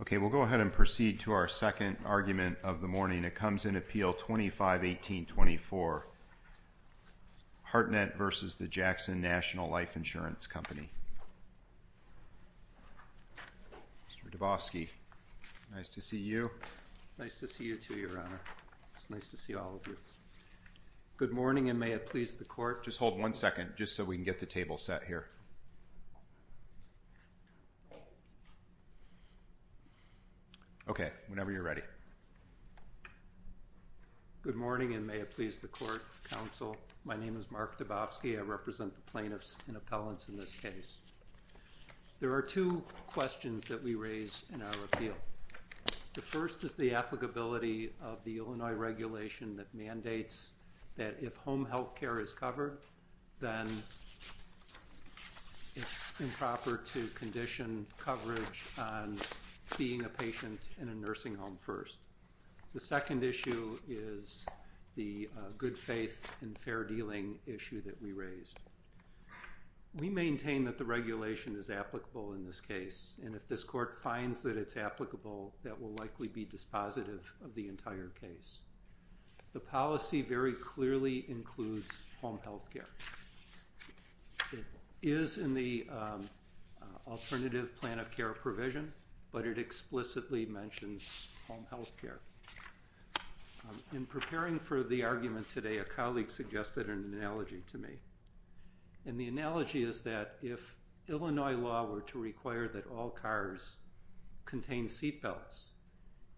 Okay, we'll go ahead and proceed to our second argument of the morning. It comes in Appeal 2518.24, Hartnett v. Jackson National Life Insurance Company. Mr. Dabowski, nice to see you. Nice to see you too, Your Honor. It's nice to see all of you. Good morning and may it please the Court. Just hold one second just so we can get the table set here. Okay, whenever you're ready. Good morning and may it please the Court, Counsel. My name is Mark Dabowski. I represent the plaintiffs and appellants in this case. There are two questions that we raise in our appeal. The first is the applicability of the Illinois regulation that mandates that if home health care is covered, then it's improper to condition coverage on seeing a patient in a nursing home first. The second issue is the good faith and fair dealing issue that we raised. We maintain that the regulation is applicable in this case, and if this Court finds that it's applicable, that will likely be dispositive of the entire case. The policy very clearly includes home health care. It is in the alternative plan of care provision, but it explicitly mentions home health care. In preparing for the argument today, a colleague suggested an analogy to me, and the analogy is that if Illinois law were to require that all cars contain seatbelts,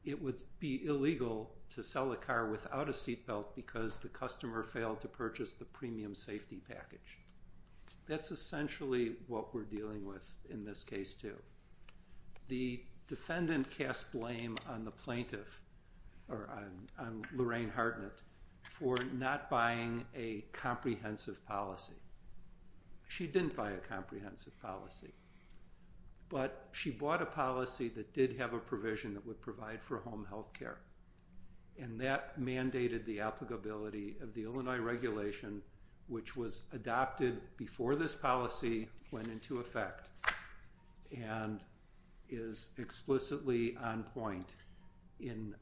it would be illegal to sell a car without a seatbelt because the customer failed to purchase the premium safety package. That's essentially what we're dealing with in this case, too. The defendant cast blame on the plaintiff, or on Lorraine Hartnett, for not buying a comprehensive policy. She didn't buy a comprehensive policy, but she bought a policy that did have a provision that would provide for home health care, and that mandated the applicability of the Illinois regulation, which was adopted before this policy went into effect, and is explicitly on point in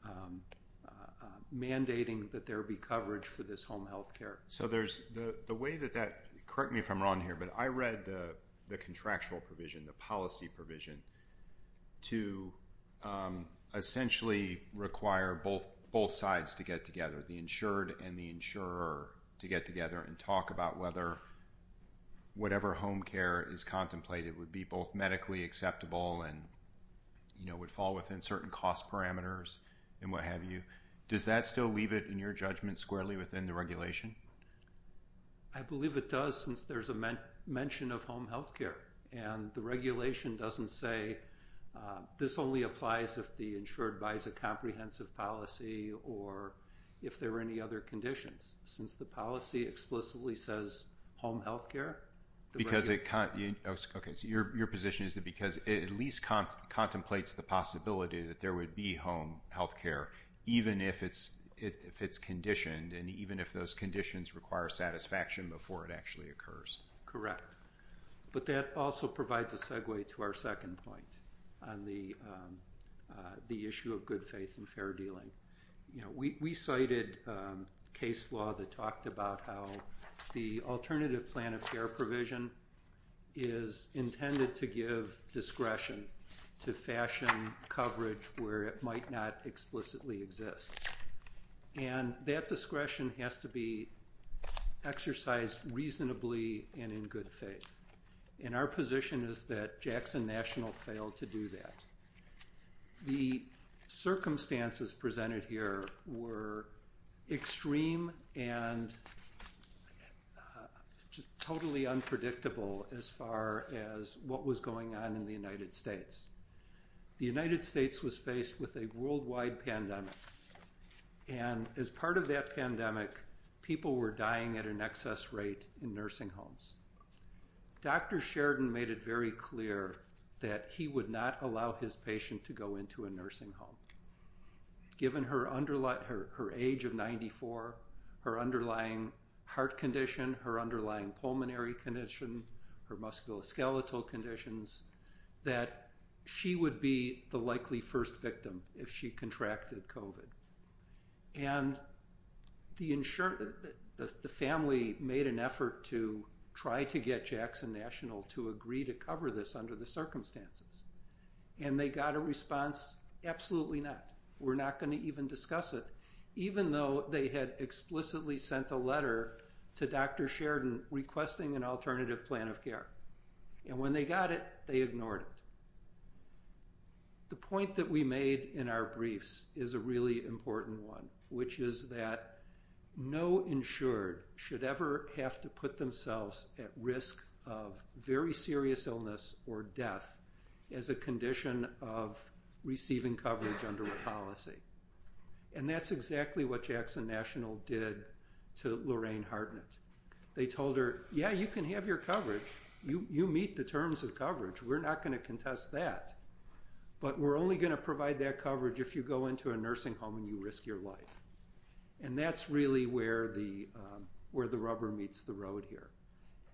mandating that there be coverage for this home health care. Correct me if I'm wrong here, but I read the contractual provision, the policy provision, to essentially require both sides to get together, the insured and the insurer, to get together and talk about whether whatever home care is contemplated would be both medically acceptable and would fall within certain cost parameters and what have you. Does that still leave it, in your judgment, squarely within the regulation? I believe it does, since there's a mention of home health care, and the regulation doesn't say, this only applies if the insured buys a comprehensive policy or if there are any other conditions. Since the policy explicitly says home health care, the regulation... Because it... Okay, so your position is that because it at least contemplates the possibility that there would be home health care, even if it's conditioned, and even if those conditions require satisfaction before it actually occurs. Correct. But that also provides a segue to our second point on the issue of good faith and fair dealing. We cited case law that talked about how the alternative plan of care provision is intended to give discretion to fashion coverage where it might not explicitly exist. And that discretion has to be exercised reasonably and in good faith. And our position is that Jackson National failed to do that. The circumstances presented here were extreme and just totally unpredictable as far as what was going on in the United States. The United States was faced with a worldwide pandemic. And as part of that pandemic, people were dying at an excess rate in nursing homes. Dr. Sheridan made it very clear that he would not allow his patient to go into a nursing home. Given her age of 94, her underlying heart condition, her underlying pulmonary condition, her musculoskeletal conditions, that she would be the likely first victim if she contracted COVID. And the family made an effort to try to get Jackson National to agree to cover this under the circumstances. And they got a response, absolutely not. We're Sheridan requesting an alternative plan of care. And when they got it, they ignored it. The point that we made in our briefs is a really important one, which is that no insured should ever have to put themselves at risk of very serious illness or death as a condition of receiving coverage under a policy. And that's exactly what Jackson National did to Lorraine Hartnett. They told her, yeah, you can have your coverage. You meet the terms of coverage. We're not going to contest that. But we're only going to provide that coverage if you go into a nursing home and you risk your life. And that's really where the rubber meets the road here.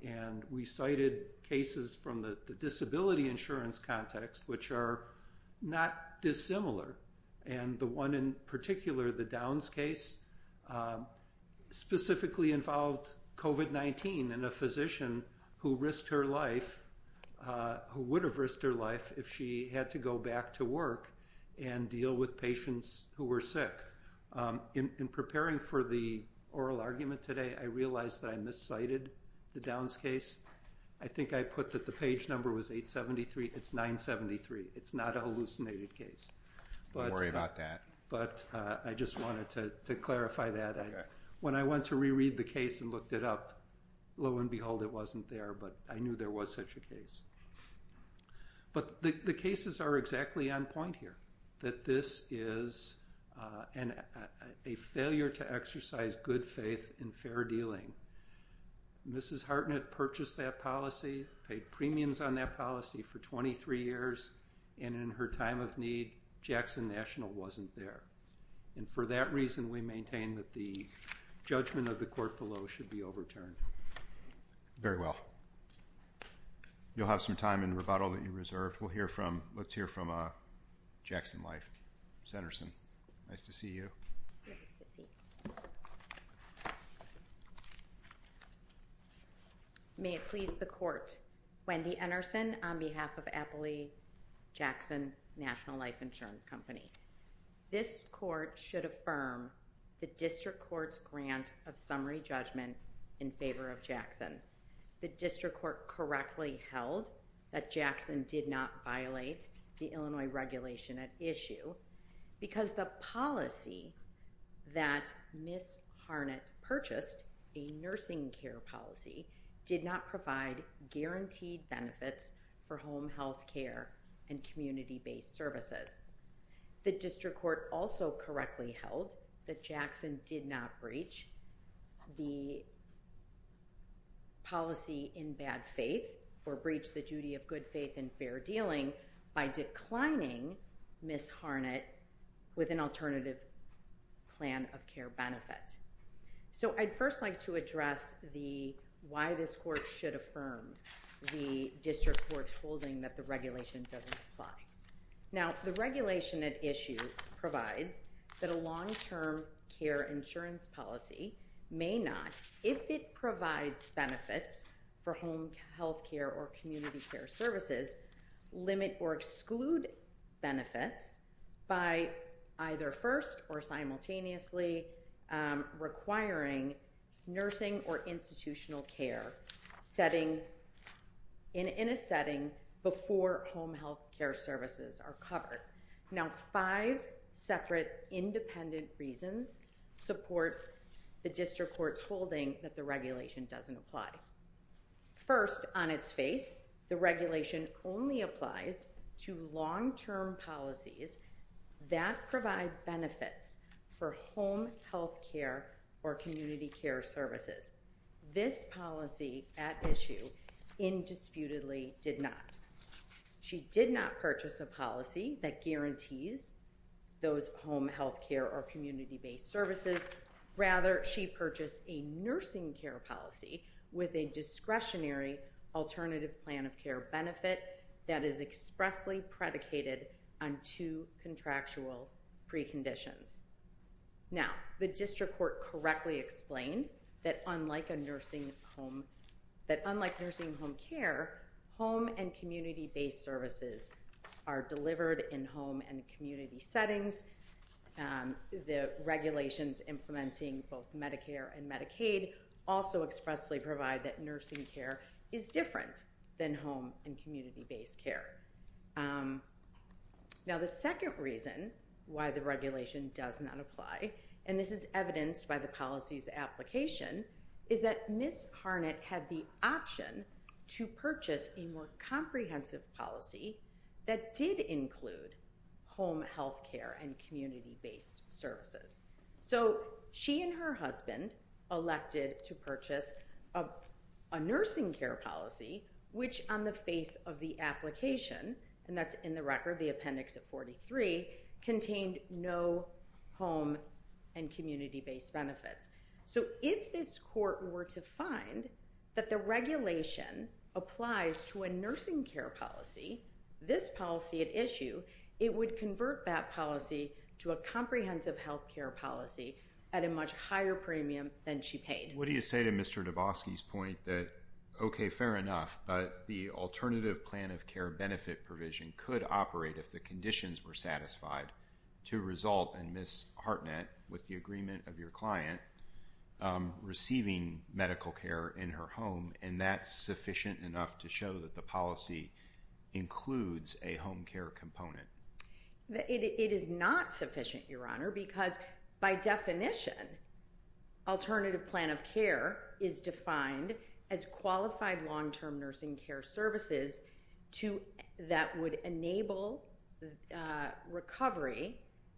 And we cited cases from the disability insurance context, which are not dissimilar. And the one in particular, the Downs case, specifically involved COVID-19 and a physician who risked her life, who would have risked her life if she had to go back to work and deal with patients who were sick. In preparing for the oral argument today, I realized that I miscited the Downs case. I think I put that the page number was 873. It's 973. It's not a hallucinated case. Don't worry about that. But I just wanted to clarify that. When I went to reread the case and looked it up, lo and behold, it wasn't there. But I knew there was such a case. But the cases are exactly on point here, that this is a failure to exercise good faith in fair dealing. Mrs. Hartnett purchased that policy, paid premiums on that policy for 23 years. And in her time of need, Jackson National wasn't there. And for that reason, we maintain that the judgment of the court below should be overturned. Very well. You'll have some time in rebuttal that you reserved. Let's hear from Jackson Life, Sanderson. Nice to see you. May it please the court. Wendy Anderson on behalf of Appley Jackson National Life Insurance Company. This court should affirm the district court's grant of summary judgment in favor of Jackson. The district court correctly held that Jackson did not violate the Illinois regulation at issue because the policy that Ms. Hartnett purchased, a nursing care policy, did not provide guaranteed benefits for home health care and community-based services. The district court also correctly held that Jackson did not breach the policy in bad faith or breach the duty of good faith and fair dealing by declining Ms. Hartnett with an alternative plan of care benefit. So I'd first like to address why this court should affirm the district court's holding that the regulation doesn't apply. Now, the regulation at issue provides that a long-term care insurance policy may not, if it provides benefits for home health care or community care services, limit or exclude benefits by either first or simultaneously requiring nursing or institutional care in a setting before home health care services are covered. Now five separate independent reasons support the district court's holding that the regulation doesn't apply. First, on its face, the regulation only applies to long-term policies that provide benefits for home health care or community care services. This policy at issue indisputably did not. She did not purchase a policy that guarantees those home health care or community-based services. Rather, she purchased a nursing care policy with a discretionary alternative plan of care benefit that is expressly predicated on two contractual preconditions. Now the district court correctly explained that unlike nursing home care, home and community-based settings, the regulations implementing both Medicare and Medicaid also expressly provide that nursing care is different than home and community-based care. Now the second reason why the regulation does not apply, and this is evidenced by the policy's application, is that Ms. Harnett had the option to purchase a more comprehensive policy that did include home health care and community-based services. So she and her husband elected to purchase a nursing care policy, which on the face of the application, and that's in the record, the appendix of 43, contained no home and community-based benefits. So if this court were to find that the regulation applies to a nursing care policy, this policy at issue it would convert that policy to a comprehensive health care policy at a much higher premium than she paid. What do you say to Mr. Dabosky's point that, okay, fair enough, but the alternative plan of care benefit provision could operate if the conditions were satisfied to result in Ms. Harnett, with the agreement of your client, receiving medical care in her home and that's sufficient enough to show that the policy includes a home care component? It is not sufficient, Your Honor, because by definition, alternative plan of care is defined as qualified long-term nursing care services that would enable recovery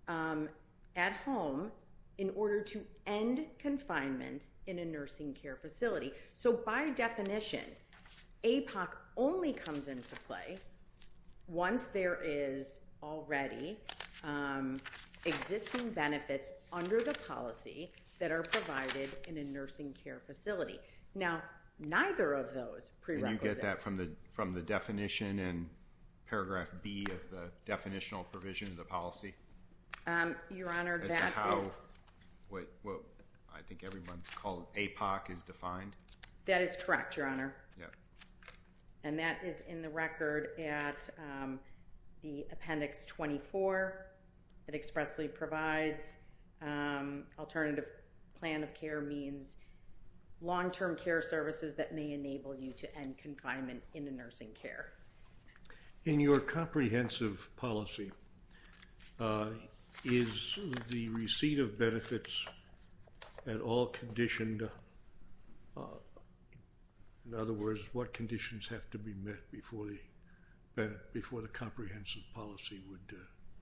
at home in order to end confinement in a nursing care facility. So by definition, APOC only comes into play once there is already existing benefits under the policy that are provided in a nursing care facility. Now, neither of those prerequisites... And you get that from the definition in paragraph B of the definitional provision of the policy? Your Honor, that... As to how, well, I think everyone's called, APOC is defined? That is correct, Your Honor. Yeah. And that is in the record at the appendix 24. It expressly provides alternative plan of care means long-term care services that may enable you to end confinement in a nursing care. In your comprehensive policy, is the receipt of benefits at all conditioned? In other words, what conditions have to be met before the comprehensive policy would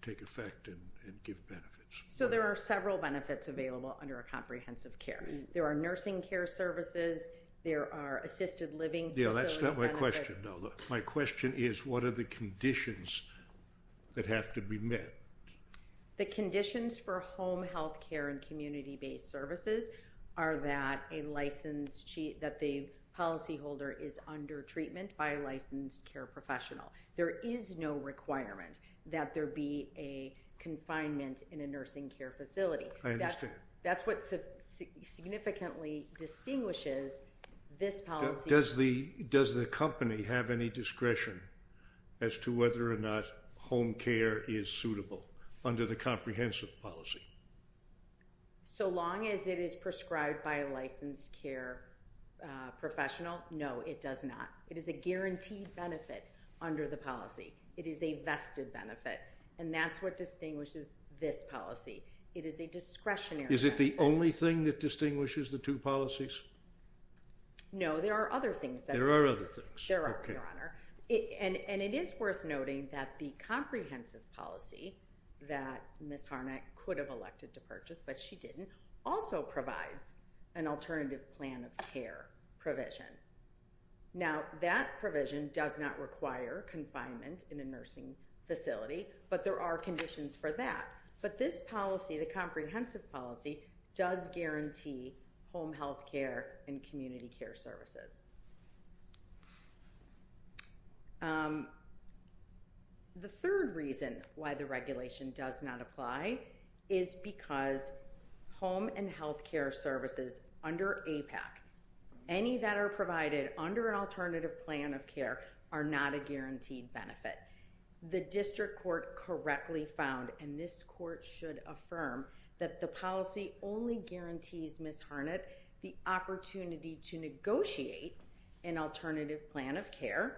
take effect and give benefits? So there are several benefits available under a comprehensive care. There are nursing care services. There are assisted living facility benefits. Yeah, that's not my question, though. My question is, what are the conditions that have to be met? The conditions for home health care and community-based services are that the policyholder is under treatment by a licensed care professional. There is no requirement that there be a confinement in a nursing care facility. I understand. That's what significantly distinguishes this policy. Does the company have any discretion as to whether or not home care is suitable under the comprehensive policy? So long as it is prescribed by a licensed care professional, no, it does not. It is a guaranteed benefit under the policy. It is a vested benefit, and that's what distinguishes this policy. It is a discretionary benefit. Is it the only thing that distinguishes the two policies? No, there are other things. There are other things. There are, Your Honor. And it is worth noting that the comprehensive policy that Ms. Harnack could have elected to purchase, but she didn't, also provides an alternative plan of care provision. Now, that provision does not require confinement in a nursing facility, but there are conditions for that. But this policy, the comprehensive policy, does guarantee home health care and community care services. The third reason why the regulation does not apply is because home and health care services under APAC, any that are provided under an alternative plan of care, are not a guaranteed benefit. The district court correctly found, and this court should affirm, that the policy only guarantees Ms. Harnack the opportunity to negotiate an alternative plan of care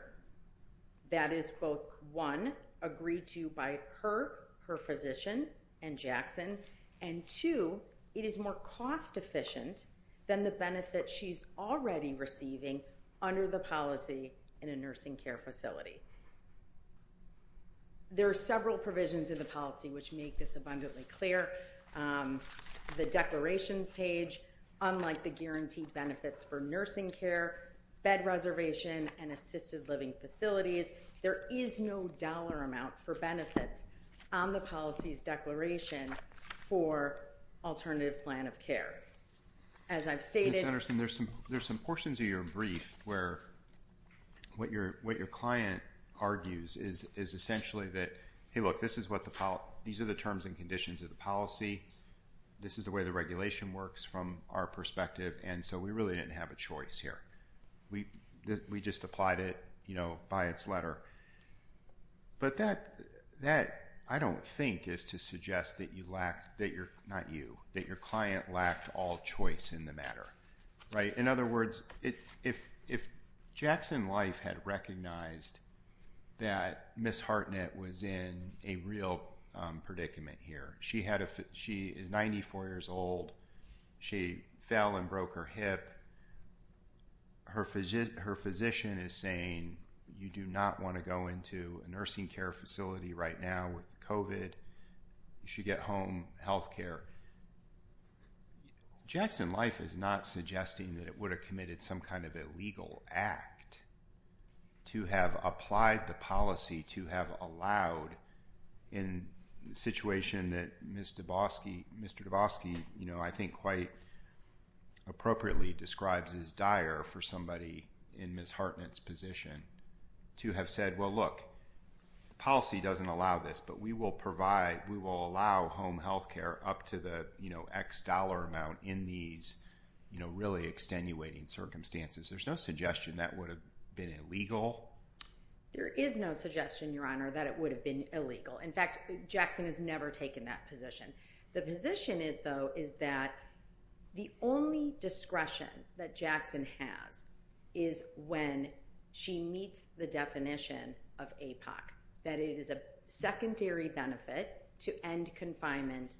that is both, one, agreed to by her, her physician, and Jackson, and two, it is more cost efficient than the benefit she's already receiving under the policy in a nursing care facility. There are several provisions in the policy which make this abundantly clear. The declarations page, unlike the guaranteed benefits for nursing care, bed reservation, and assisted living facilities, there is no dollar amount for benefits on the policy's declaration for alternative plan of care. As I've stated... Congressman, there's some portions of your brief where what your client argues is essentially that, hey look, these are the terms and conditions of the policy, this is the way the regulation works from our perspective, and so we really didn't have a choice here. We just applied it by its letter. But that, I don't think, is to suggest that your client lacked all the facts of the matter. In other words, if Jackson Life had recognized that Ms. Harnack was in a real predicament here, she is 94 years old, she fell and broke her hip, her physician is saying you do not want to go into a nursing care facility right now with COVID, you should get home health care. Jackson Life is not suggesting that it would have committed some kind of illegal act to have applied the policy to have allowed in the situation that Mr. Dabosky, I think quite appropriately describes as dire for somebody in Ms. Hartnett's position, to have said, well look, policy doesn't allow this, but we will allow home health care up to the X dollar amount in these really extenuating circumstances. There's no suggestion that would have been illegal? There is no suggestion, Your Honor, that it would have been illegal. In fact, Jackson has never taken that position. The position is, though, is that the only discretion that Jackson has is when she meets the definition of APOC, that it is a secondary benefit to end confinement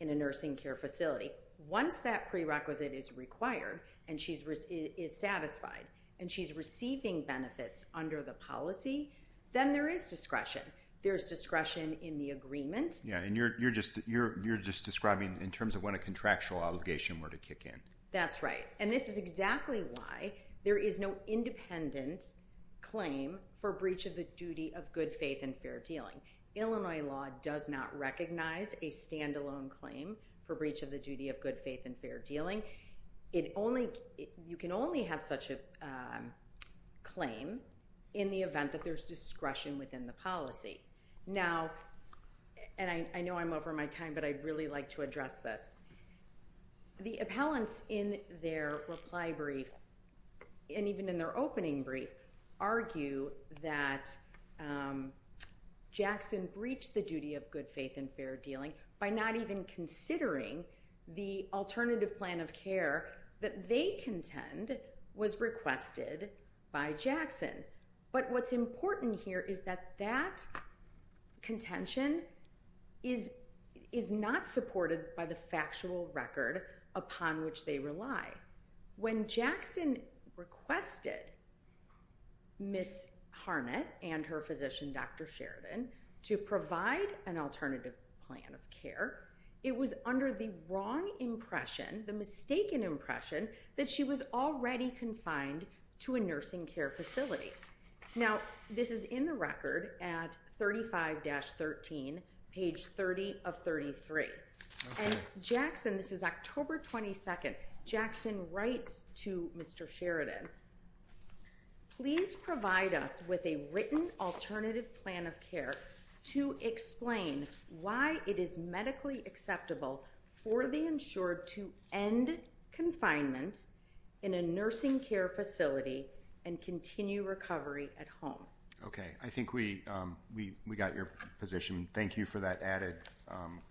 in a nursing care facility. Once that prerequisite is required and she is satisfied and she's receiving benefits under the policy, then there is discretion. There's discretion in the agreement. Yeah, and you're just describing in terms of when a contractual obligation were to kick in. That's right, and this is exactly why there is no independent claim for breach of the duty of good faith and fair dealing. Illinois law does not recognize a standalone claim for breach of the duty of good faith and fair dealing. You can only have such a claim in the event that there's discretion within the policy. Now, and I know I'm over my time, but I'd really like to address this. The appellants in their reply brief and even in their opening brief argue that Jackson breached the duty of good faith and fair dealing by not even considering the alternative plan of care that they contend was requested by Jackson. But what's important here is that that contention is not supported by the factual record upon which they rely. When Jackson requested Ms. Harnett and her physician, Dr. Sheridan, to provide an alternative plan of care, it was under the wrong impression, the mistaken impression that she was already confined to a nursing care facility. Now, this is in the record at 35-13, page 30 of 33. And Jackson, this is October 22nd, Jackson writes to Mr. Sheridan, please provide us with a written alternative plan of care to explain why it is medically acceptable for the insured to end confinement in a nursing care facility and continue recovery at home. Okay. I think we got your position. Thank you for that added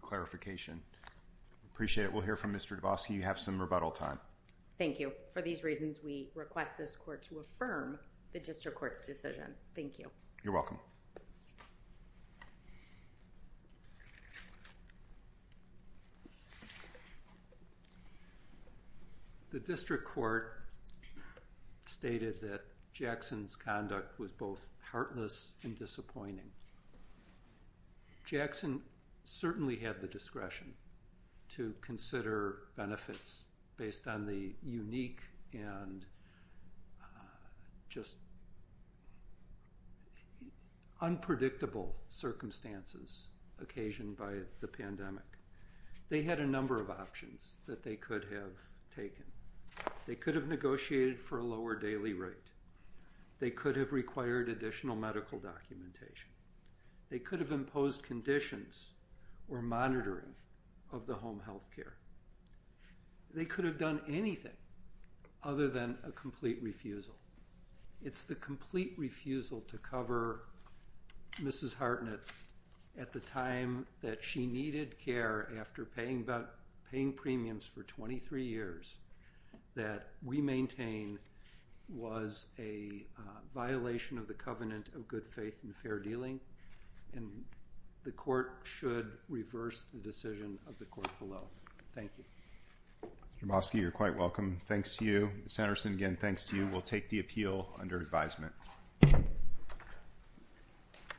clarification. Appreciate it. We'll hear from Mr. Dabosky. You have some rebuttal time. Thank you. For these reasons, we request this court to affirm the district court's decision. Thank you. You're welcome. The district court stated that Jackson's conduct was both heartless and disappointing. Jackson certainly had the discretion to consider benefits based on the unique and just, you know, the unpredictable circumstances occasioned by the pandemic. They had a number of options that they could have taken. They could have negotiated for a lower daily rate. They could have required additional medical documentation. They could have imposed conditions or monitoring of the home health care. They could have done anything other than a complete refusal. It's the complete refusal to cover Mrs. Hartnett at the time that she needed care after paying premiums for 23 years that we maintain was a violation of the covenant of good faith and fair dealing. And the court should reverse the decision of the court below. Thank you. Mr. Dabosky, you're quite welcome. Thanks to you. Senator Sengen, thanks to you. We'll take the appeal under advisement.